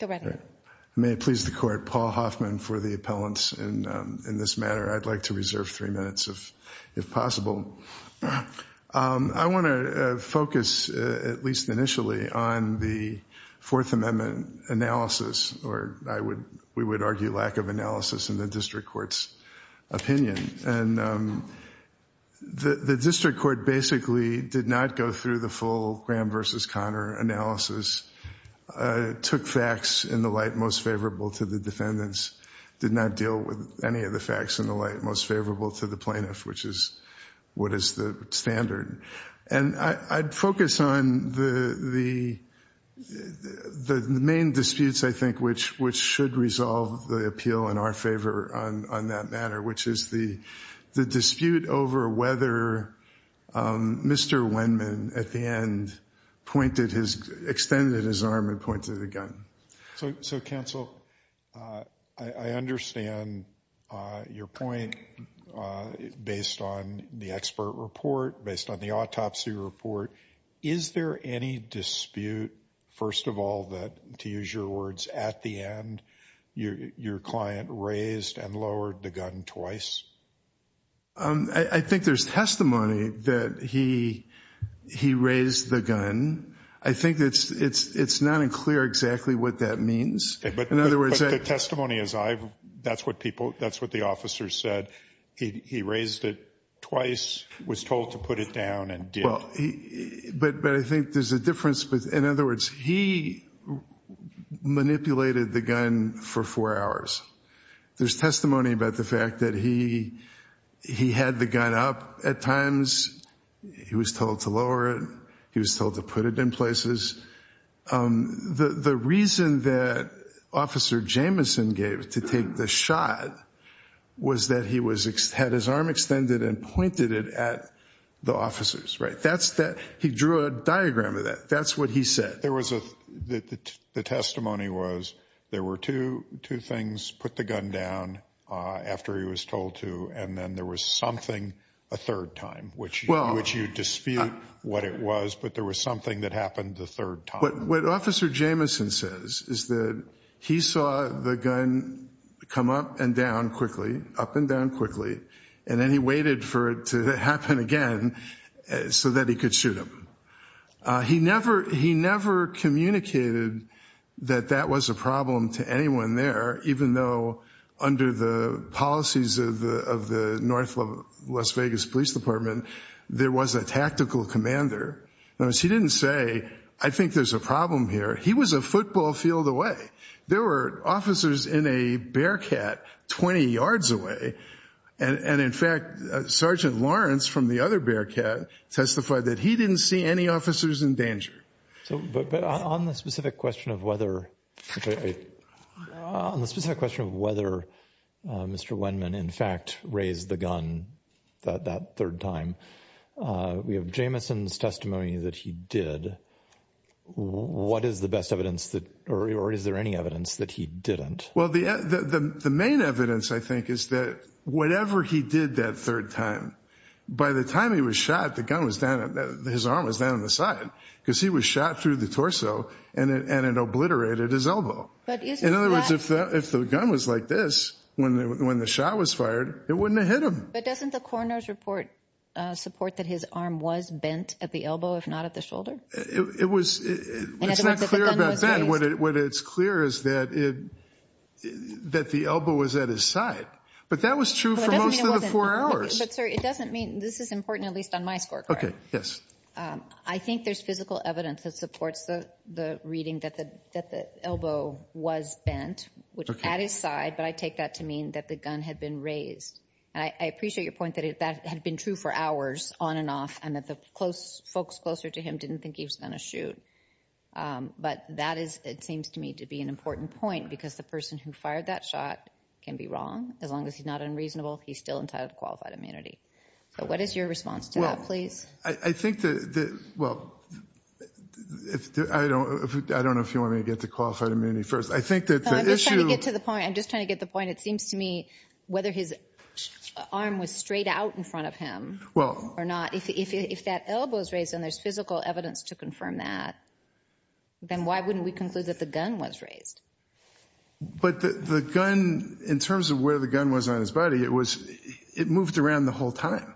I want to focus, at least initially, on the Fourth Amendment analysis, or we would argue lack of analysis in the District Court's opinion. And the District Court basically did not go through the full Graham v. Conner analysis, took facts in the light most favorable to the defendants, did not deal with any of the facts in the light most favorable to the plaintiff, which is what is the standard. And I'd focus on the main disputes, I think, which should resolve the appeal in our favor on that matter, which is the dispute over whether Mr. Wendman at the end extended his arm and pointed a gun. So, Counsel, I understand your point based on the expert report, based on the autopsy report. Is there any dispute, first of all, that, to use your words, at the end, your client raised and lowered the gun twice? I think there's testimony that he raised the gun. I think it's not unclear exactly what that means. But the testimony is that's what the officers said. He raised it twice, was told to put it down, and did. But I think there's a difference. In other words, he manipulated the gun for four hours. There's testimony about the fact that he had the gun up at times. He was told to lower it. He was told to put it in places. The reason that Officer Jameson gave to take the shot was that he had his arm extended and pointed it at the officers. He drew a diagram of that. That's what he said. The testimony was there were two things, put the gun down after he was told to, and then there was something a third time, which you dispute what it was, but there was something that happened the third time. But what Officer Jameson says is that he saw the gun come up and down quickly, up and down quickly, and then he waited for it to happen again so that he could shoot him. He never communicated that that was a problem to anyone there, even though under the policies of the North Las Vegas Police Department, there was a tactical commander. Notice he didn't say, I think there's a problem here. He was a football field away. There were officers in a Bearcat 20 yards away. And in fact, Sergeant Lawrence from the other Bearcat testified that he didn't see any officers in danger. But on the specific question of whether Mr. Wendman in fact raised the gun that third time, we have Jameson's testimony that he did. What is the best evidence that or is there any evidence that he didn't? Well, the main evidence, I think, is that whatever he did that third time, by the time he was shot, the gun was down, his arm was down on the side because he was shot through the torso and it obliterated his elbow. In other words, if the gun was like this, when the shot was fired, it wouldn't have hit him. But doesn't the coroner's report support that his arm was bent at the elbow, if not at the shoulder? It's not clear about that. What it's clear is that the elbow was at his side. But that was true for most of the four hours. But sir, it doesn't mean, this is important, at least on my scorecard. I think there's physical evidence that supports the reading that the elbow was bent at his side, but I take that to mean that the gun had been raised. And I appreciate your point that that had been true for hours, on and off, and that the folks closer to him didn't think he was going to shoot. But that is, it seems to me, to be an important point because the person who fired that shot can be wrong. As long as he's not unreasonable, he's still entitled to qualified immunity. So what is your response to that, please? Well, I think that, well, I don't know if you want me to get to qualified immunity first. I'm just trying to get to the point, it seems to me, whether his arm was straight out in front of him or not. If that elbow is raised and there's physical evidence to confirm that, then why wouldn't we conclude that the gun was raised? But the gun, in terms of where the gun was on his body, it moved around the whole time.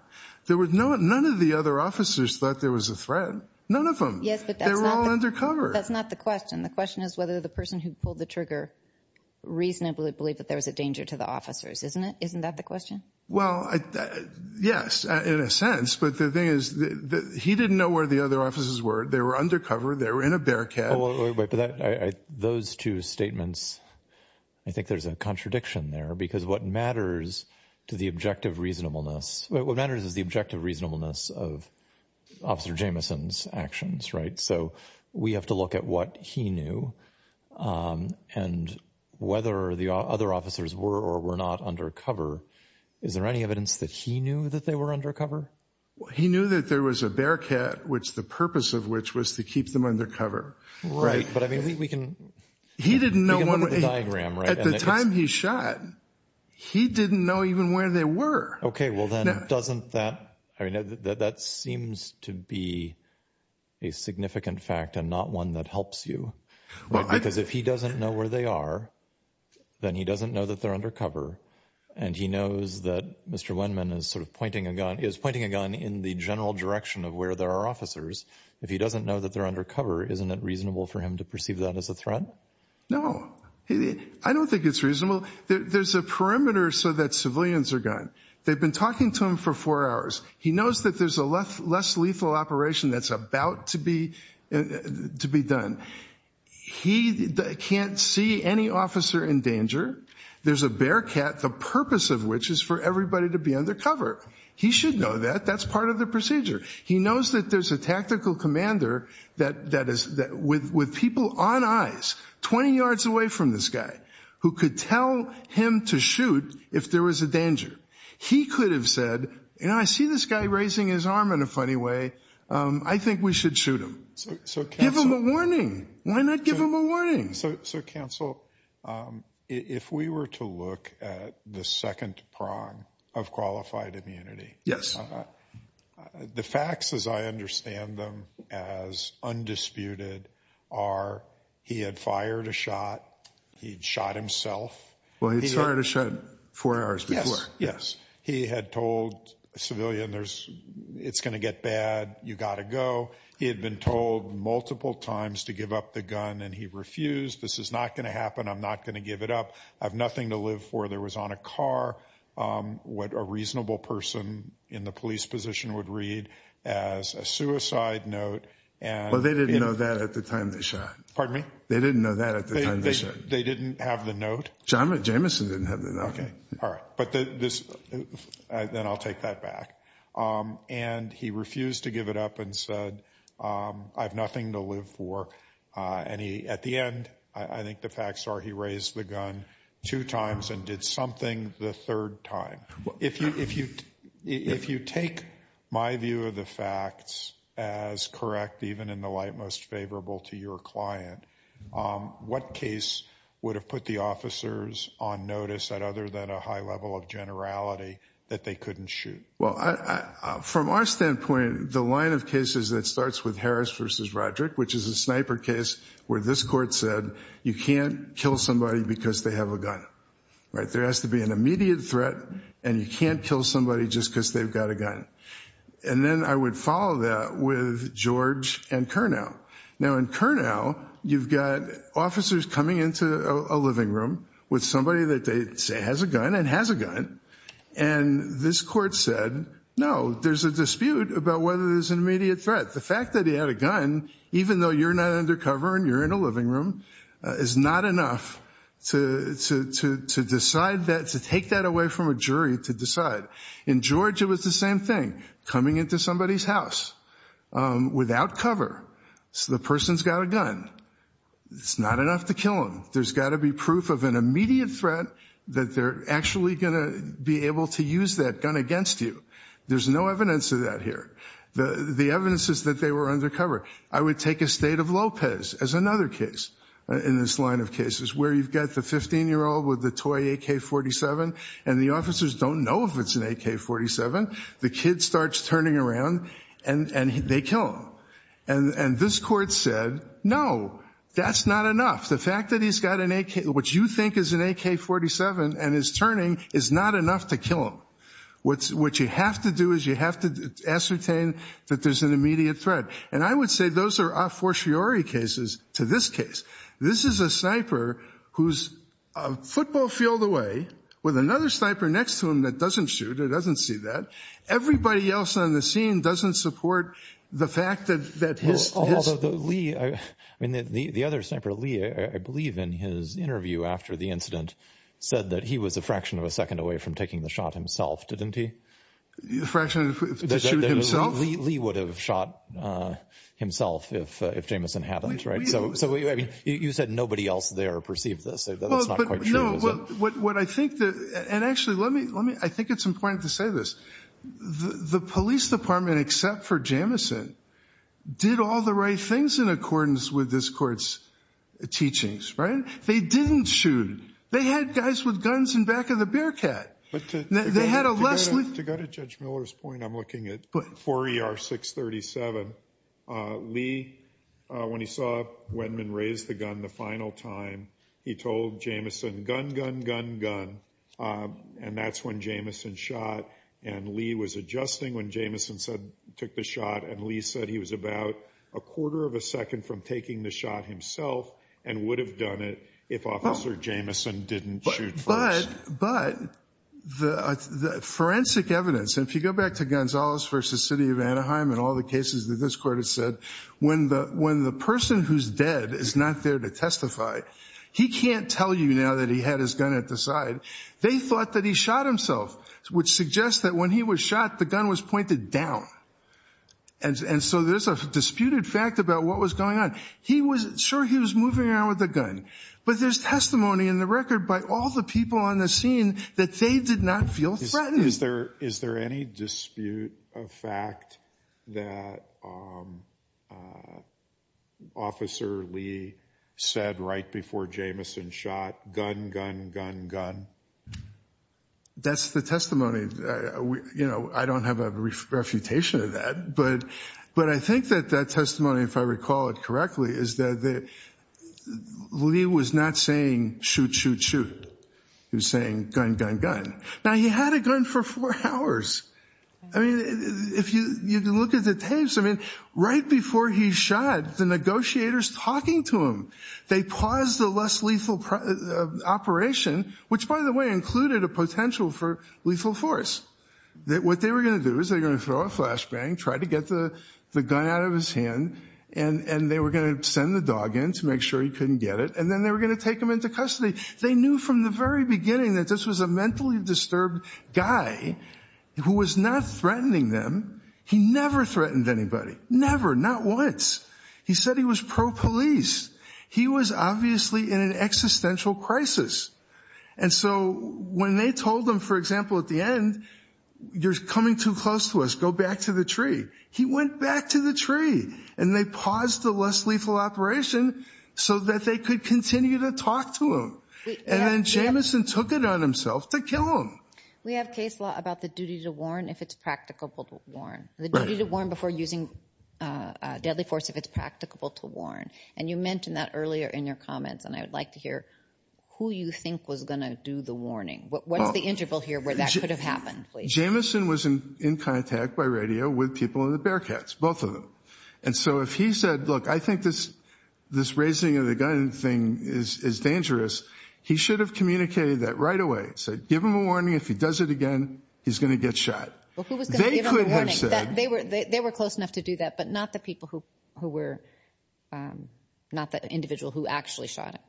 None of the other officers thought there was a threat. None of them. They were all undercover. That's not the question. The question is whether the person who pulled the trigger reasonably believed that there was a danger to the officers, isn't it? Isn't that the question? Well, yes, in a sense. But the thing is that he didn't know where the other officers were. They were undercover. They were in a bearcat. Those two statements, I think there's a contradiction there. Because what matters to the objective reasonableness, what matters is the objective reasonableness of Officer Jamison's actions, right? So we have to look at what he knew and whether the other officers were or were not undercover. Is there any evidence that he knew that they were undercover? He knew that there was a bearcat, which the purpose of which was to keep them undercover. Right, but I mean, we can... He didn't know one way... At the time he shot, he didn't know even where they were. Okay, well then doesn't that... I mean, that seems to be a significant fact and not one that helps you. Because if he doesn't know where they are, then he doesn't know that they're undercover. And he knows that Mr. Wendman is sort of pointing a gun, is pointing a gun in the general direction of where there are officers. If he doesn't know that they're undercover, isn't it reasonable for him to perceive that as a threat? No, I don't think it's reasonable. There's a perimeter so that civilians are gone. They've been talking to him for four hours. He knows that there's a less lethal operation that's about to be done. He can't see any officer in danger. There's a bearcat, the purpose of which is for everybody to be undercover. He should know that. That's part of the procedure. He knows that there's a tactical commander with people on eyes, 20 yards away from this guy, who could tell him to shoot if there was a danger. He could have said, you know, I see this guy raising his arm in a funny way. I think we should shoot him. Give him a warning. Why not give him a warning? So, Counsel, if we were to look at the second prong of qualified immunity... Yes. The facts, as I understand them, as undisputed, are he had fired a shot. He'd shot himself. Well, he'd fired a shot four hours before. Yes. He had told a civilian, it's going to get bad. You've got to go. He had been told multiple times to give up the gun, and he refused. This is not going to happen. I'm not going to give it up. I've nothing to live for. There was on a car what a reasonable person in the police position would read as a suicide note. Well, they didn't know that at the time they shot. Pardon me? They didn't know that at the time they shot. They didn't have the note? Jamison didn't have the note. Okay. All right. Then I'll take that back. And he refused to give it up and said, I've nothing to live for. And at the end, I think the facts are he raised the gun two times and did something the third time. If you take my view of the facts as correct, even in the light most favorable to your client, what case would have put the officers on notice at other than a high level of generality that they couldn't shoot? Well, from our standpoint, the line of cases that starts with Harris versus Roderick, which is a sniper case where this court said you can't kill somebody because they have a gun. Right. There has to be an immediate threat and you can't kill somebody just because they've got a gun. And then I would follow that with George and Curnow. Now, in Curnow, you've got officers coming into a living room with somebody that they say has a gun and has a gun. And this court said, no, there's a dispute about whether there's an immediate threat. The fact that he had a gun, even though you're not undercover and you're in a living room, is not enough to decide that, to take that away from a jury to decide. In George, it was the same thing, coming into somebody's house without cover. So the person's got a gun. It's not enough to kill him. There's got to be proof of an immediate threat that they're actually going to be able to use that gun against you. There's no evidence of that here. The evidence is that they were undercover. I would take a state of Lopez as another case in this line of cases, where you've got the 15-year-old with the toy AK-47 and the officers don't know if it's an AK-47. The kid starts turning around and they kill him. And this court said, no, that's not enough. He's got what you think is an AK-47 and his turning is not enough to kill him. What you have to do is you have to ascertain that there's an immediate threat. And I would say those are a fortiori cases to this case. This is a sniper who's a football field away with another sniper next to him that doesn't shoot or doesn't see that. Everybody else on the scene doesn't support the fact that his... The other sniper, Lee, I believe in his interview after the incident, said that he was a fraction of a second away from taking the shot himself, didn't he? A fraction to shoot himself? Lee would have shot himself if Jamison hadn't. You said nobody else there perceived this. That's not quite true. Actually, I think it's important to say this. The police department, except for Jamison, did all the right things in accordance with this court's teachings, right? They didn't shoot. They had guys with guns in back of the Bearcat. To go to Judge Miller's point, I'm looking at 4 ER 637. Lee, when he saw Wendman raise the gun the final time, he told Jamison, gun, gun, gun, gun. And that's when Jamison shot. And Lee was adjusting when Jamison took the shot. And Lee said he was about a quarter of a second from taking the shot himself and would have done it if Officer Jamison didn't shoot first. But the forensic evidence, and if you go back to Gonzales v. City of Anaheim and all the cases that this court has said, when the person who's dead is not there to testify, he can't tell you now that he had his gun at the side they thought that he shot himself, which suggests that when he was shot, the gun was pointed down. And so there's a disputed fact about what was going on. Sure, he was moving around with a gun, but there's testimony in the record by all the people on the scene that they did not feel threatened. Is there any dispute of fact that Officer Lee said right before Jamison shot, gun, gun, gun, gun? That's the testimony. You know, I don't have a refutation of that. But I think that that testimony, if I recall it correctly, is that Lee was not saying shoot, shoot, shoot. He was saying gun, gun, gun. Now, he had a gun for four hours. I mean, you can look at the tapes. I mean, right before he shot, the negotiators talking to him. They paused the less lethal operation, which, by the way, included a potential for lethal force. What they were going to do is they're going to throw a flashbang, try to get the gun out of his hand, and they were going to send the dog in to make sure he couldn't get it. And then they were going to take him into custody. They knew from the very beginning that this was a mentally disturbed guy who was not threatening them. He never threatened anybody. Never. Not once. He said he was pro-police. He was obviously in an existential crisis. And so when they told him, for example, at the end, you're coming too close to us. Go back to the tree. He went back to the tree. And they paused the less lethal operation so that they could continue to talk to him. And then Jamison took it on himself to kill him. We have case law about the duty to warn if it's practicable to warn. The duty to warn before using deadly force if it's practicable to warn. And you mentioned that earlier in your comments, and I would like to hear who you think was going to do the warning. What is the interval here where that could have happened? Jamison was in contact by radio with people in the Bearcats, both of them. And so if he said, look, I think this raising of the gun thing is dangerous, he should have communicated that right away. Said, give him a warning. If he does it again, he's going to get shot. Well, who was going to give him a warning? They were close enough to do that, but not the people who were, not the individual who actually shot him.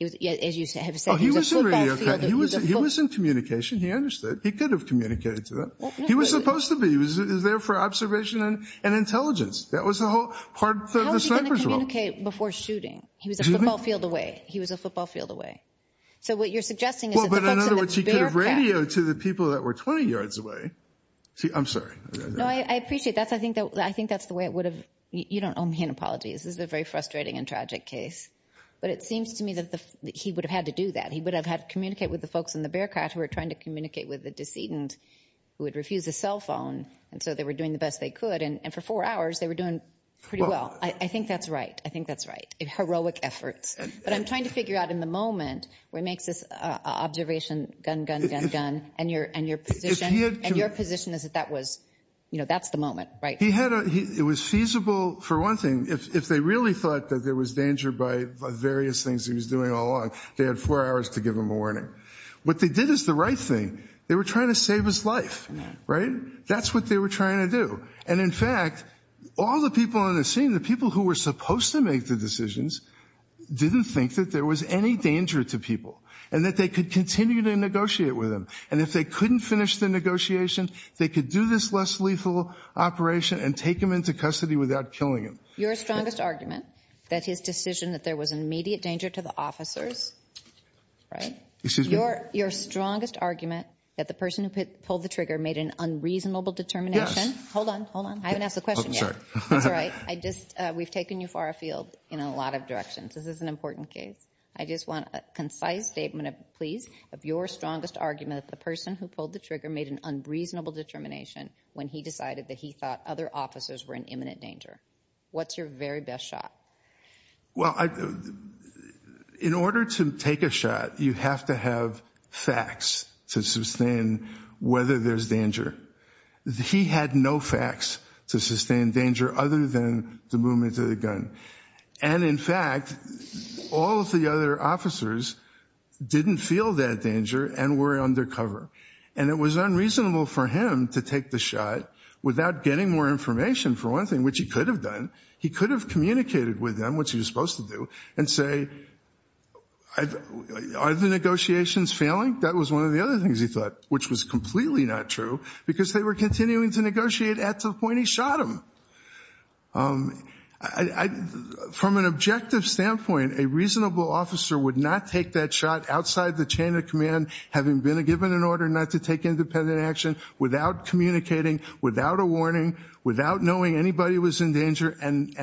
As you have said, he was a football field. He was in communication. He understood. He could have communicated to them. He was supposed to be. He was there for observation and intelligence. That was the whole part of the sniper's role. How was he going to communicate before shooting? He was a football field away. He was a football field away. So what you're suggesting is that the folks in the Bearcats... Well, but in other words, he could have radioed to the people that were 20 yards away. See, I'm sorry. No, I appreciate that. I think that's the way it would have... You don't owe me an apology. This is a very frustrating and tragic case. But it seems to me that he would have had to do that. He would have had to communicate with the folks in the Bearcats who were trying to communicate with the decedent who had refused a cell phone. And so they were doing the best they could. And for four hours, they were doing pretty well. I think that's right. I think that's right. Heroic efforts. But I'm trying to figure out in the moment what makes this observation, gun, gun, gun, gun, and your position is that that's the moment, right? He had a... It was feasible for one thing. If they really thought that there was danger by various things he was doing all along, they had four hours to give him a warning. What they did is the right thing. They were trying to save his life, right? That's what they were trying to do. And in fact, all the people on the scene, the people who were supposed to make the decisions, didn't think that there was any danger to people and that they could continue to negotiate with him. And if they could, if they couldn't finish the negotiation, they could do this less lethal operation and take him into custody without killing him. Your strongest argument that his decision that there was an immediate danger to the officers, right? Excuse me? Your strongest argument that the person who pulled the trigger made an unreasonable determination... Hold on, hold on. I haven't asked the question yet. I'm sorry. That's all right. We've taken you far afield in a lot of directions. This is an important case. I just want a concise statement, please, that the person who pulled the trigger made an unreasonable determination when he decided that he thought other officers were in imminent danger. What's your very best shot? Well, in order to take a shot, you have to have facts to sustain whether there's danger. He had no facts to sustain danger other than the movement of the gun. And in fact, all of the other officers didn't feel that danger and were undercover. And it was unreasonable for him to take the shot without getting more information, for one thing, which he could have done. He could have communicated with them, which he was supposed to do, and say, are the negotiations failing? That was one of the other things he thought, which was completely not true because they were continuing to negotiate at the point he shot him. From an objective standpoint, a reasonable officer having been given an order not to take independent action without communicating, without a warning, without knowing anybody was in danger, and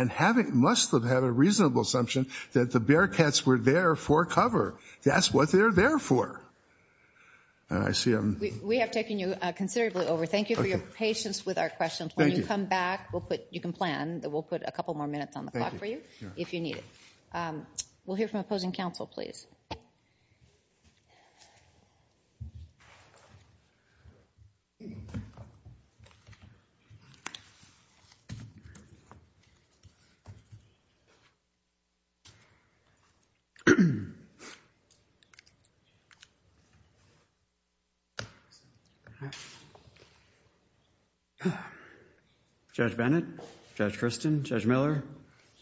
must have had a reasonable assumption that the Bearcats were there for cover. That's what they're there for. We have taken you considerably over. Thank you for your patience with our questions. When you come back, you can plan, we'll put a couple more minutes on the clock for you if you need it. We'll hear from opposing counsel, please. Thank you. Judge Bennett, Judge Christin, Judge Miller,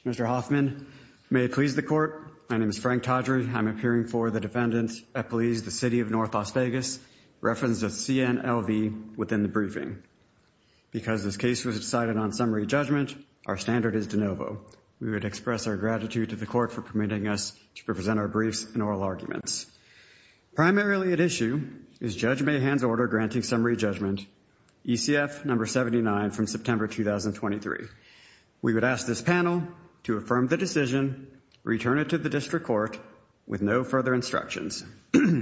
Mr. Hoffman, may it please the court, my name is Frank Todry, I'm appearing for the defendant at please the city of North Las Vegas referenced as CNLV within the briefing. Because this case was decided on summary judgment, our standard is de novo. We would express our gratitude to the court for permitting us to present our briefs and oral arguments. Primarily at issue is Judge Mahan's order granting summary judgment, ECF number 79 from September 2023. We would ask this panel to affirm the decision, return it to the district court with no further instructions.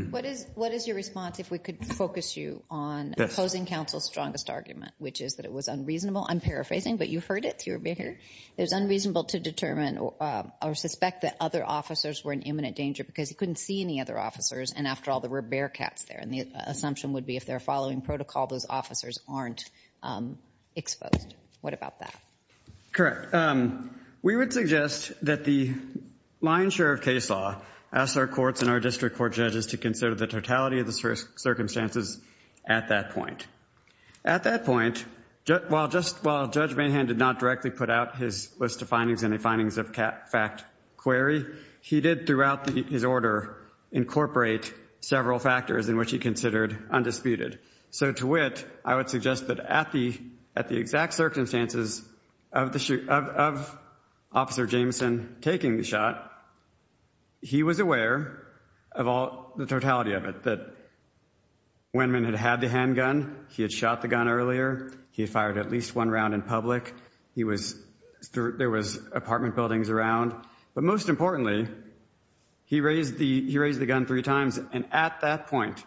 What is your response if we could focus you on opposing counsel's strongest argument, which is that it was unreasonable, I'm paraphrasing, but you heard it, it was unreasonable to determine or suspect that other officers were in imminent danger because he couldn't see any other officers and after all there were bearcats there and the assumption would be if they're following protocol, those officers aren't exposed. What about that? The lion's share of case law asks our courts and our district court judges to consider the totality of the circumstances at that point. At that point, while Judge Mahan did not directly put out his list of findings and the findings of fact query, he did throughout his order incorporate several factors in which he considered undisputed. So to wit, I would suggest that at the exact circumstances of Officer Jameson taking the shot, he was aware of the totality of it, that Wendman had had the handgun, he had shot the gun earlier, he had fired at least one round in public, there was apartment buildings around, but most importantly, he raised the gun three times and at that point,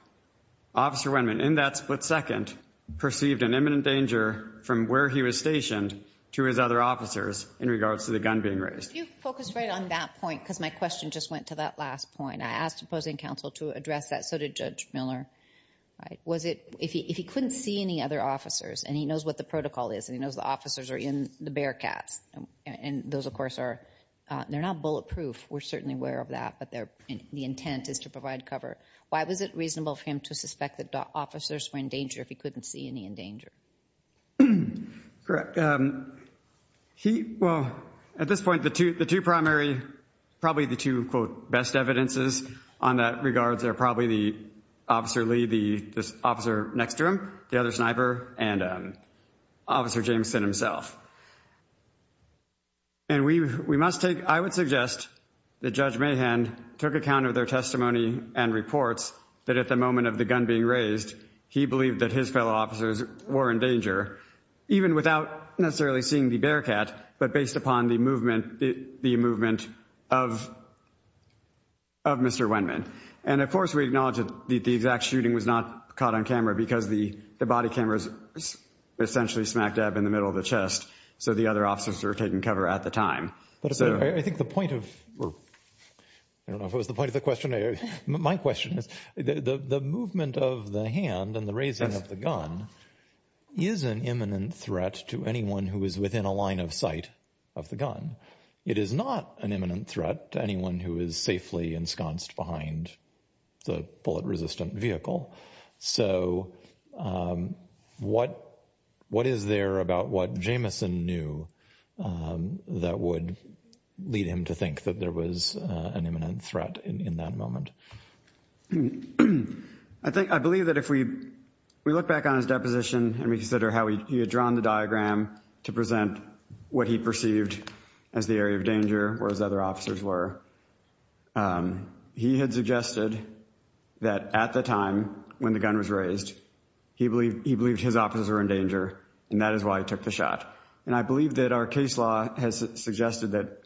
Officer Wendman in that split second perceived an imminent danger from where he was stationed to his other officers in regards to the gun being raised. Could you focus right on that point because my question just went to that last point. I asked opposing counsel to address that, so did Judge Miller. If he couldn't see any other officers and he knows what the protocol is and he knows the officers are in the Bearcats and those of course are, they're not bulletproof, we're certainly aware of that, but the intent is to provide cover, why was it reasonable for him to suspect that officers were in danger if he couldn't see any in danger? Well, at this point, the two primary, probably the two, quote, best evidences on that regard are probably Officer Lee, the officer next to him, the other sniper, and Officer Jameson himself. And we must take, I would suggest that Judge Mahan took account of their testimony and reports that at the moment of the gun being raised, he believed that his fellow officers were in danger even without any cover based upon the movement, the movement of Mr. Wendman. And of course we acknowledge that the exact shooting was not caught on camera because the body camera is essentially smack dab in the middle of the chest, so the other officers were taking cover at the time. But I think the point of, I don't know if it was the point of the question, my question is, the movement of the hand and the raising of the gun is an imminent threat to anyone who is within a line of sight of the gun. It is not an imminent threat to anyone who is safely ensconced behind the bullet-resistant vehicle. So what is there about what Jameson knew that would lead him to think that there was an imminent threat in that moment? I think, I believe that if we, we look back on his deposition and we consider how he had drawn the diagram to present what he perceived as the area of danger or as other officers were, he had suggested that at the time when the gun was raised, he believed his officers were in danger and that is why he took the shot. And I believe that our case law has suggested that,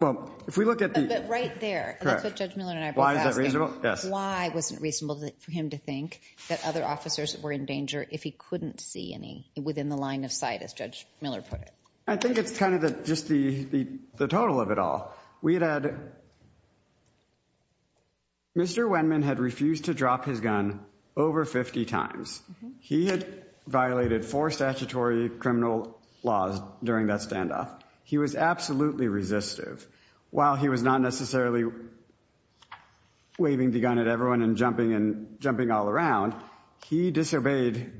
well, if we look at the... But right there, that's what Judge Miller and I were asking. Why is that reasonable? Yes. Why wasn't it reasonable for him to think that other officers were in danger if he couldn't see any within the line of sight as Judge Miller put it? I think it's kind of just the total of it all. We had, Mr. Wendman had refused to drop his gun over 50 times. He had violated four statutory criminal laws during that standoff. He was absolutely resistive. While he was not necessarily waving the gun at everyone and jumping all around, he disobeyed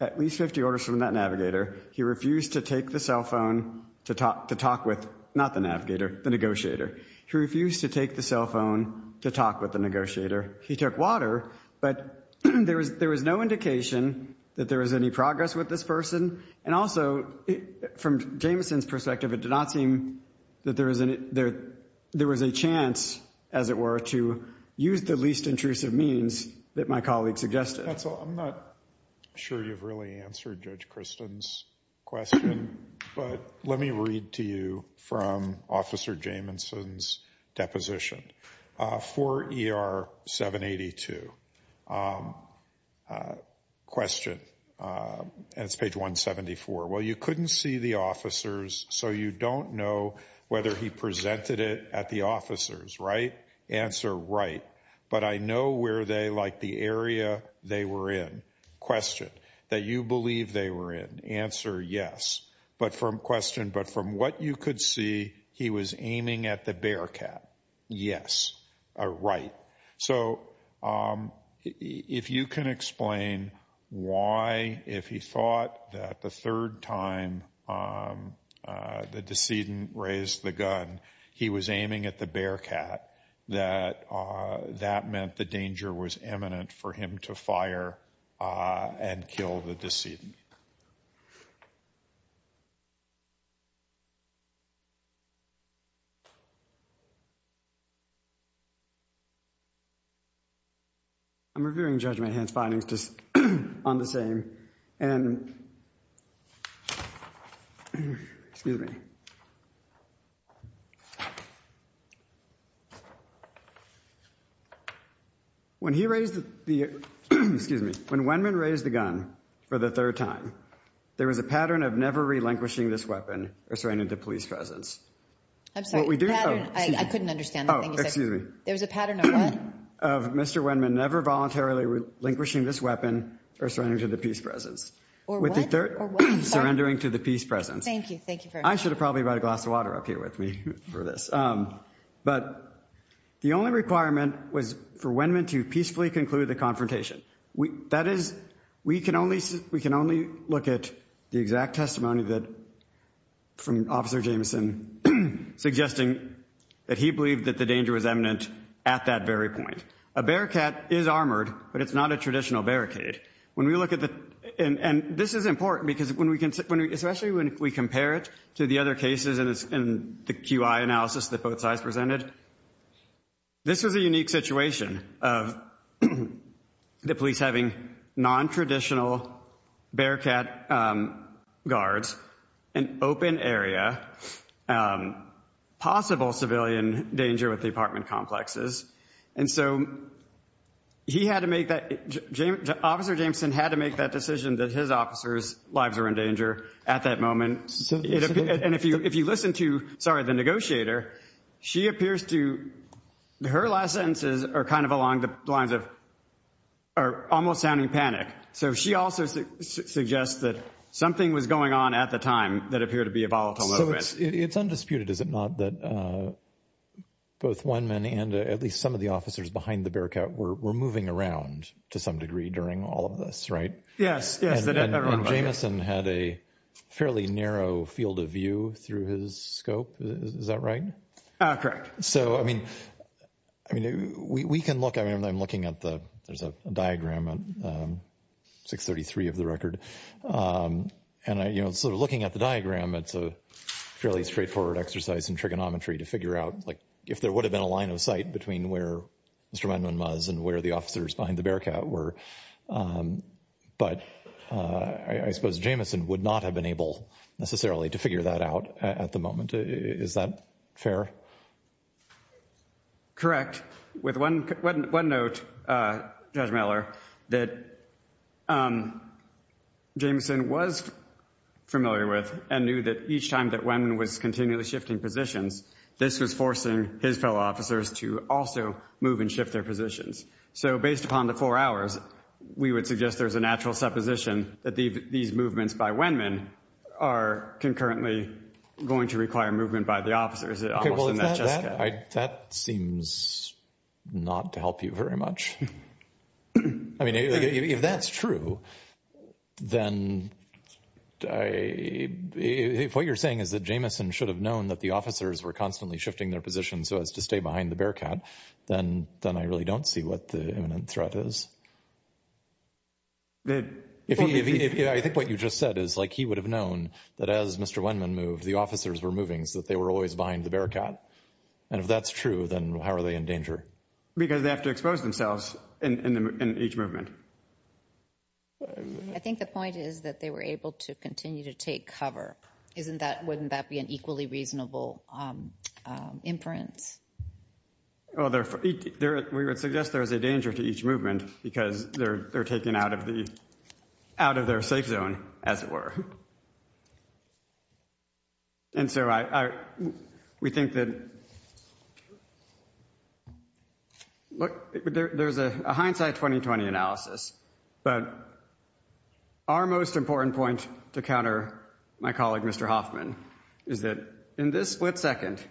at least 50 orders from that navigator. He refused to take the cell phone to talk with, not the navigator, the negotiator. He refused to take the cell phone to talk with the negotiator. He took water, but there was no indication that there was any progress with this person. And also, from Jameson's perspective, it did not seem that there was a chance, as it were, to use the least intrusive means that my colleague suggested. That's all. I'm not sure you've really answered Judge Christen's question, but let me read to you from Officer Jameson's deposition. For ER 782, question, and it's page 174. Well, you couldn't see the officers, so you don't know whether he presented it at the officers, right? Answer, right. But I know where they, like the area they were in. Question, that you believe they were in. Answer, yes. But from, question, but from what you could see, he was aiming at the bearcat. Yes, or right. So, if you can explain why, if he thought that the third time the decedent raised the gun, he was aiming at the bearcat, that that meant the danger was imminent for him to fire and kill the decedent. I'm reviewing Judge Mahan's findings on this aim, and excuse me, when he raised the, excuse me, when Wenman raised the gun for the third time, there was a pattern of never relinquishing this weapon or surrendering to police presence. I'm sorry, I couldn't understand. Oh, excuse me. There was a pattern of what? Of Mr. Wenman never voluntarily relinquishing this weapon or surrendering to the peace presence. Or what? With the third, surrendering to the peace presence. Thank you. Thank you very much. I should have probably brought a glass of water up here with me for this. But, the only requirement was for Wenman to peacefully conclude the confrontation. That is, we can only, we can only look at the exact testimony that, from Officer Jameson, suggesting that he believed that the danger was imminent at that very point. A bearcat is armored, but it's not a traditional barricade. When we look at the, and this is important because when we can, especially when we compare it to the other cases and the QI analysis that both sides presented, this was a unique situation of the police having non-traditional bearcat guards, an open area, possible civilian danger with the apartment complexes. And so, he had to make that, Officer Jameson had to make that decision that his officers' lives were in danger at that moment. And if you listen to, the negotiator, she appears to, her last sentences are kind of along the lines of, are almost sounding panic. So she also suggests that something was going on at the time that appeared to be a volatile moment. So it's undisputed, is it not, that both Wenman and at least some of the officers behind the bearcat were moving around to some degree during all of this, right? Yes, yes. Jameson had a fairly narrow field of view through his scope. Is that right? Correct. So, I mean, we can look, I mean, I'm looking at the, there's a diagram 633 of the record. And, you know, sort of looking at the diagram, it's a fairly straightforward exercise in trigonometry to figure out, like, if there would have been a line of sight between where Mr. Wenman was and where the officers behind the bearcat were. But I suppose Jameson would not have been able necessarily to figure that out at the moment. Is that fair? Correct. With one note, Judge Miller, that Jameson was familiar with and knew that each time that Wenman was continually shifting positions, this was forcing his fellow officers to also move and shift their positions. So based upon the four hours, we would suggest there's a natural supposition that these movements by Wenman are concurrently going to require movement by the officers. Okay, well, that seems not to help you very much. I mean, if that's true, then if what you're saying is that Jameson should have known that the officers were constantly shifting their positions so as to stay behind the bearcat, then I really don't see what the imminent threat is. If he, I think what you just said is like he would have known that as Mr. Wenman moved, the officers were moving so that they were always behind the bearcat. And if that's true, then how are they in danger? Because they have to expose themselves in each movement. I think the point is that they were able to continue to take cover. Isn't that, wouldn't that be an equally reasonable inference? Well, we would suggest there is a danger to each movement because they're taken out of the, out of their safe zone, as it were. And so I, we think that, look, there's a hindsight 2020 analysis, but our most important point to counter my colleague, Mr. Hoffman, is that in this split second,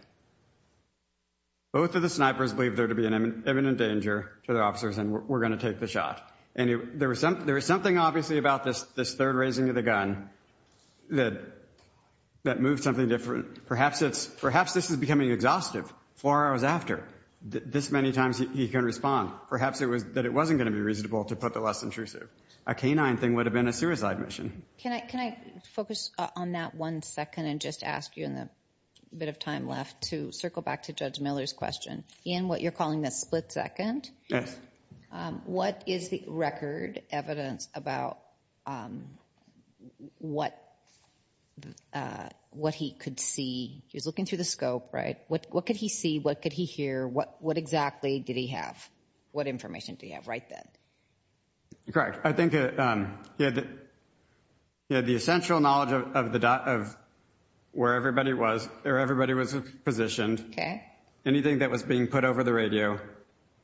both of the snipers believe there to be an imminent danger to the officers and we're going to take the shot. And there was some, there was something obviously about this, this third raising of the gun that, that moved something different. Perhaps it's, perhaps this is becoming exhaustive. Four hours after, this many times he can respond. Perhaps it was, that it wasn't going to be reasonable to put the less intrusive. A canine thing would have been a suicide mission. Can I, can I focus on that one second and just ask you in the bit of time left to circle back to Judge Miller's question. Ian, what you're calling the split second. What is the record evidence about what, what he could see? He was looking through the scope, right? What, what could he see? What could he hear? What, what exactly did he have? What information do you have right then? Correct. I think he had the, he had the essential knowledge of the, of where everybody was or everybody was positioned. Okay. Anything that was being put over the radio.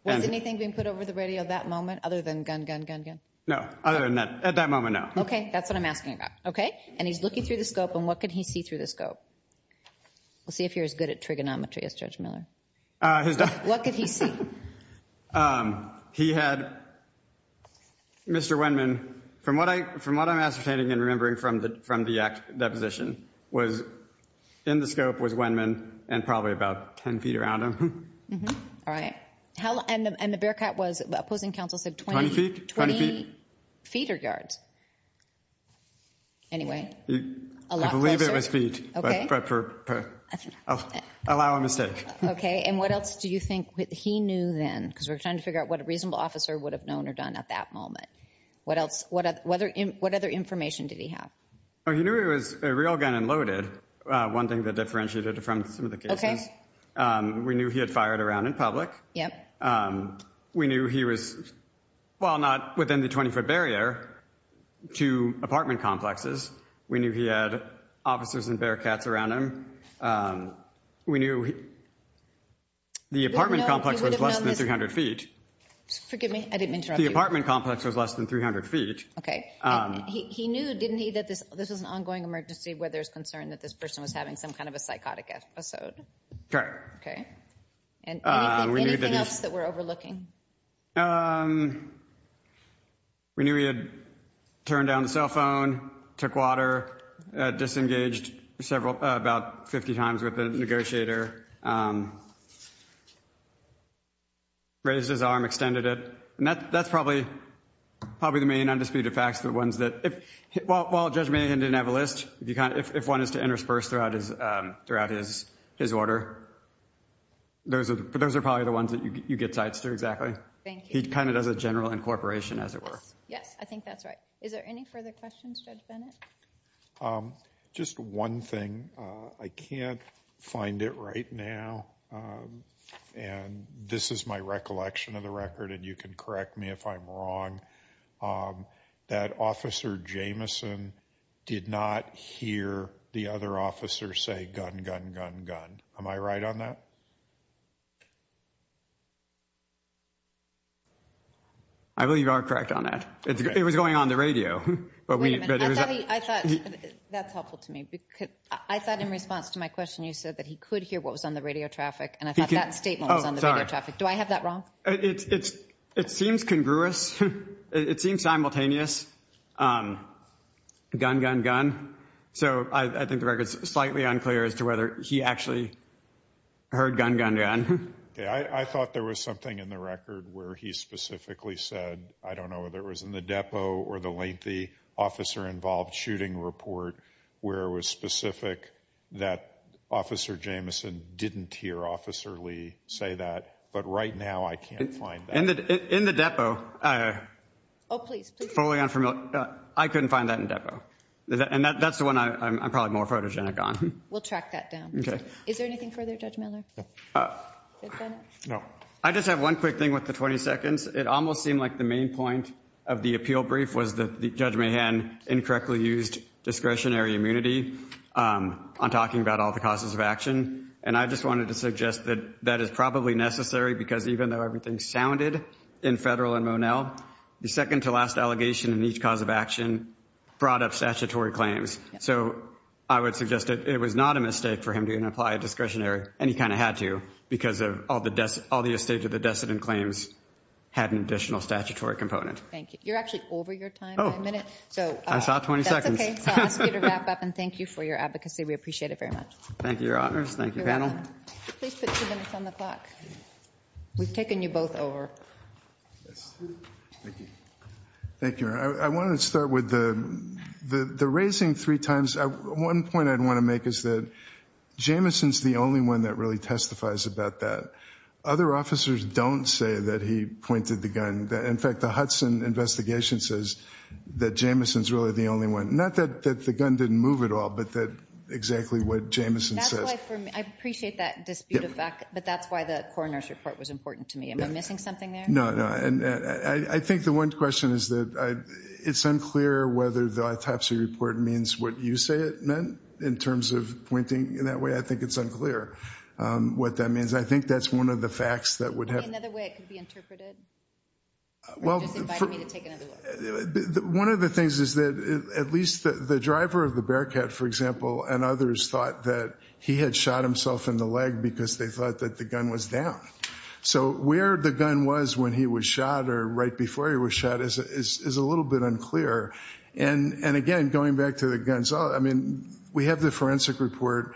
Was anything being put over the radio that moment other than gun, gun, gun, gun? No. Other than that, at that moment, no. Okay. That's what I'm asking about. Okay. And he's looking through the scope and what could he see through the scope? We'll see if you're as good at trigonometry as Judge Miller. What could he see? He had Mr. Wendman, from what I, from what I'm ascertaining and remembering from the, from the act deposition was, in the scope was Wendman and probably about 10 feet around him. All right. How, and the, and the bearcat was, opposing counsel said 20, 20 feet or yards. Anyway, a lot closer. I believe it was feet. Okay. But for, allow a mistake. Okay. And what else do you think he knew then? Because we're trying to figure out what a reasonable officer would have known or done at that moment. What else, what other, what other information did he have? Oh, he knew he was a real gun and loaded. One thing that differentiated from some of the cases. Okay. We knew he had fired around in public. We knew he was, well, not within the 20 foot barrier to apartment complexes. We knew he had officers and bearcats around him. We knew the apartment complex was less than 300 feet. Forgive me. I didn't interrupt you. The apartment complex was less than 300 feet. Okay. He knew, didn't he, that this, this was an ongoing emergency where there's concern that this person was having some kind of a psychotic episode. Okay. And anything, anything else that we're overlooking? We knew he had turned down the cell phone, took water, disengaged several, about 50 times with the negotiator, raised his arm, extended it. And that, that's probably, probably the main undisputed facts, the ones that, well, Judge Bennet didn't have a list. If you kind of, if one is to intersperse throughout his, throughout his, his order, those are, those are probably the ones that you get sides to, exactly. Thank you. He kind of does a general incorporation as it were. Yes. Yes. I think that's right. Is there any further questions, Judge Bennet? Just one thing. I can't find it right now. And this is my recollection of the record and you can correct me if I'm wrong. That Officer Jamison did not hear the other officer say, gun, gun, gun, gun. Am I right on that? I believe you are correct on that. It was going on the radio. Wait a minute. I thought, that's helpful to me. I thought in response to my question, you said that he could hear what was on the radio traffic and I thought that statement was on the radio traffic. Do I have that wrong? It's, it seems congruous. It seems simultaneous. Gun, gun, gun. So I think the record is slightly unclear as to whether he actually heard gun, gun, gun. I thought there was something in the record where he specifically said, I don't know whether it was in the depot or the lengthy officer involved shooting report where it was specific that Officer Jamison didn't hear Officer Lee say that. But right now, I can't find that. In the depot, oh please, please. Fully unfamiliar. I couldn't find that in depot. And that's the one I'm probably more photogenic on. We'll track that down. Okay. Is there anything further, Judge Miller? No. I just have one quick thing with the 20 seconds. It almost seemed like the main point of the appeal brief was that Judge Mahan incorrectly used discretionary immunity on talking about all the causes of action. And I just wanted to suggest that that is probably necessary because even though everything sounded in Federal and Monell, the second to last allegation in each cause of action brought up statutory claims. So I would suggest that it was not a mistake for him to even apply a discretionary. And he kind of had to because of all the estate of the decedent claims had an additional statutory component. Thank you. You're actually over your time by a minute. I saw 20 seconds. That's okay. I'll ask you to wrap up and thank you for your advocacy. We appreciate it very much. Thank you, Your Honors. Thank you, panel. Please put two minutes on the clock. We've taken you both over. Thank you. Thank you, Your Honor. I want to start with the raising three times. One point I'd want to make is that Jamison's the only one that really testifies about that. Other officers don't say that he pointed the gun. In fact, the Hudson investigation says that Jamison's really the only one. Not that the gun didn't move at all, but that exactly what Jamison says. I appreciate that dispute effect, but that's why the coroner's report was important to me. Am I missing something there? No, no. I think the one question is that it's unclear whether the autopsy report means what you say it meant in terms of pointing in that way. I think it's unclear what that means. I think that's one of the facts that would have... Could there be another way it could be interpreted? Or did you just invite me to take another look? One of the things is that at least the driver of the Bearcat, for example, and others thought that he had shot himself in the leg because they thought that the gun was down. So where the gun was when he was shot or right before he was shot is a little bit unclear. And again, going back to the guns, I mean, we have the forensic report.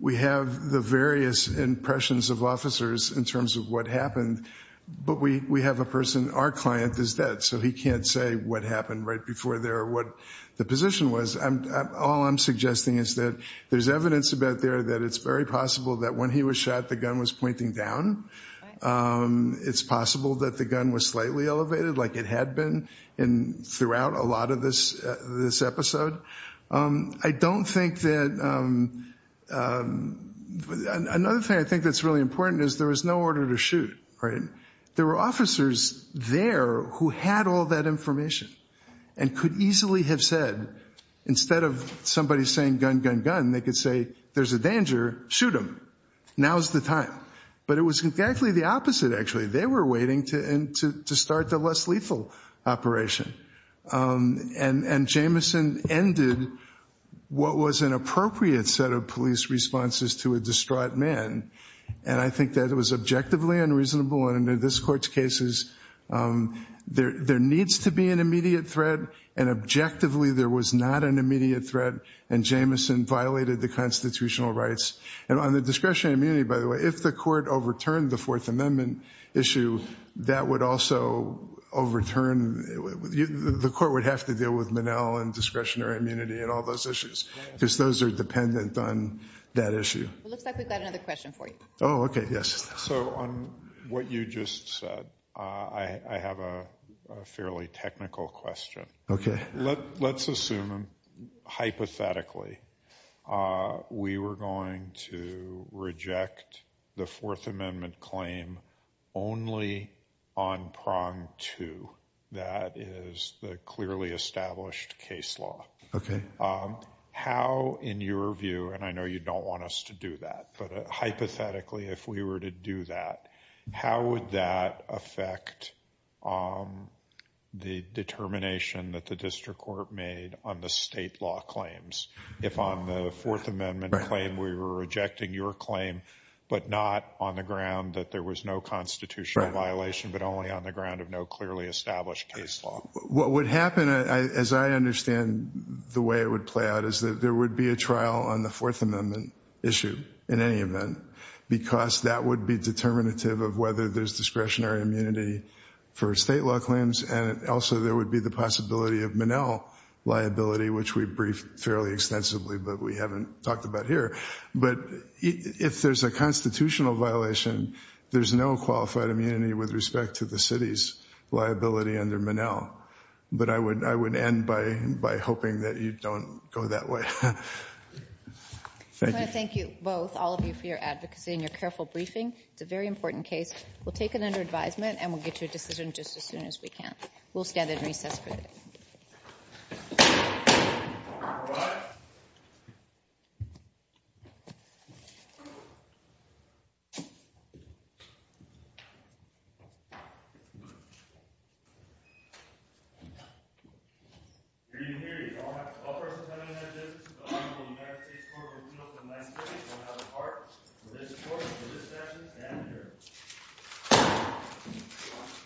We have the various impressions of officers in terms of what happened. But we have a person, our client is dead, so he can't say what happened right before there or what the position was. All I'm suggesting is that there's evidence about there that it's very possible that when he was shot, the gun was pointing down. It's possible that the gun was slightly elevated like it had been throughout a lot of this episode. I don't think that... Another thing I think that's really important is there was no order to shoot. There were officers there who had all that information and could easily have said, instead of somebody saying, gun, gun, gun, they could say, there's a danger, shoot him. Now's the time. But it was exactly the opposite, actually. They were waiting to start the less lethal operation. And Jamison ended what was an appropriate set of police responses to a distraught man. And I think that it was objectively unreasonable and in this court's cases, there needs to be an immediate threat and objectively there was not an immediate threat and Jamison violated the constitutional rights. And on the discretionary immunity, by the way, if the court overturned the Fourth Amendment issue, that would also overturn... The court would have to deal with Manel and discretionary immunity and all those issues because those are dependent on that issue. It looks like we've got another question for you. Oh, okay, yes. So on what you just said, I have a fairly technical question. Okay. Let's assume, hypothetically, we were going to reject the Fourth Amendment claim only on prong two, that is the clearly established case law. Okay. How, in your view, and I know you don't want us to do that, but hypothetically, if we were to do that, how would that affect the determination that the district court made on the state law claims? If on the Fourth Amendment claim we were rejecting your claim but not on the ground that there was no constitutional violation but only on the ground of no clearly established case law? What would happen, as I understand the way it would play out, is that there would be a trial on the Fourth Amendment issue in any event because that would be determinative of whether there's discretionary immunity for state law claims and also there would be the possibility of Manel liability, which we've briefed fairly extensively but we haven't talked about here. But if there's a constitutional violation, there's no qualified immunity with respect to the city's liability under Manel. But I would end by hoping that you don't go that way. I want to thank you both, all of you, for your advocacy and your careful briefing. It's a very important case. We'll take it under advisement and we'll get to a decision just as soon as we can. We'll stand at recess for that.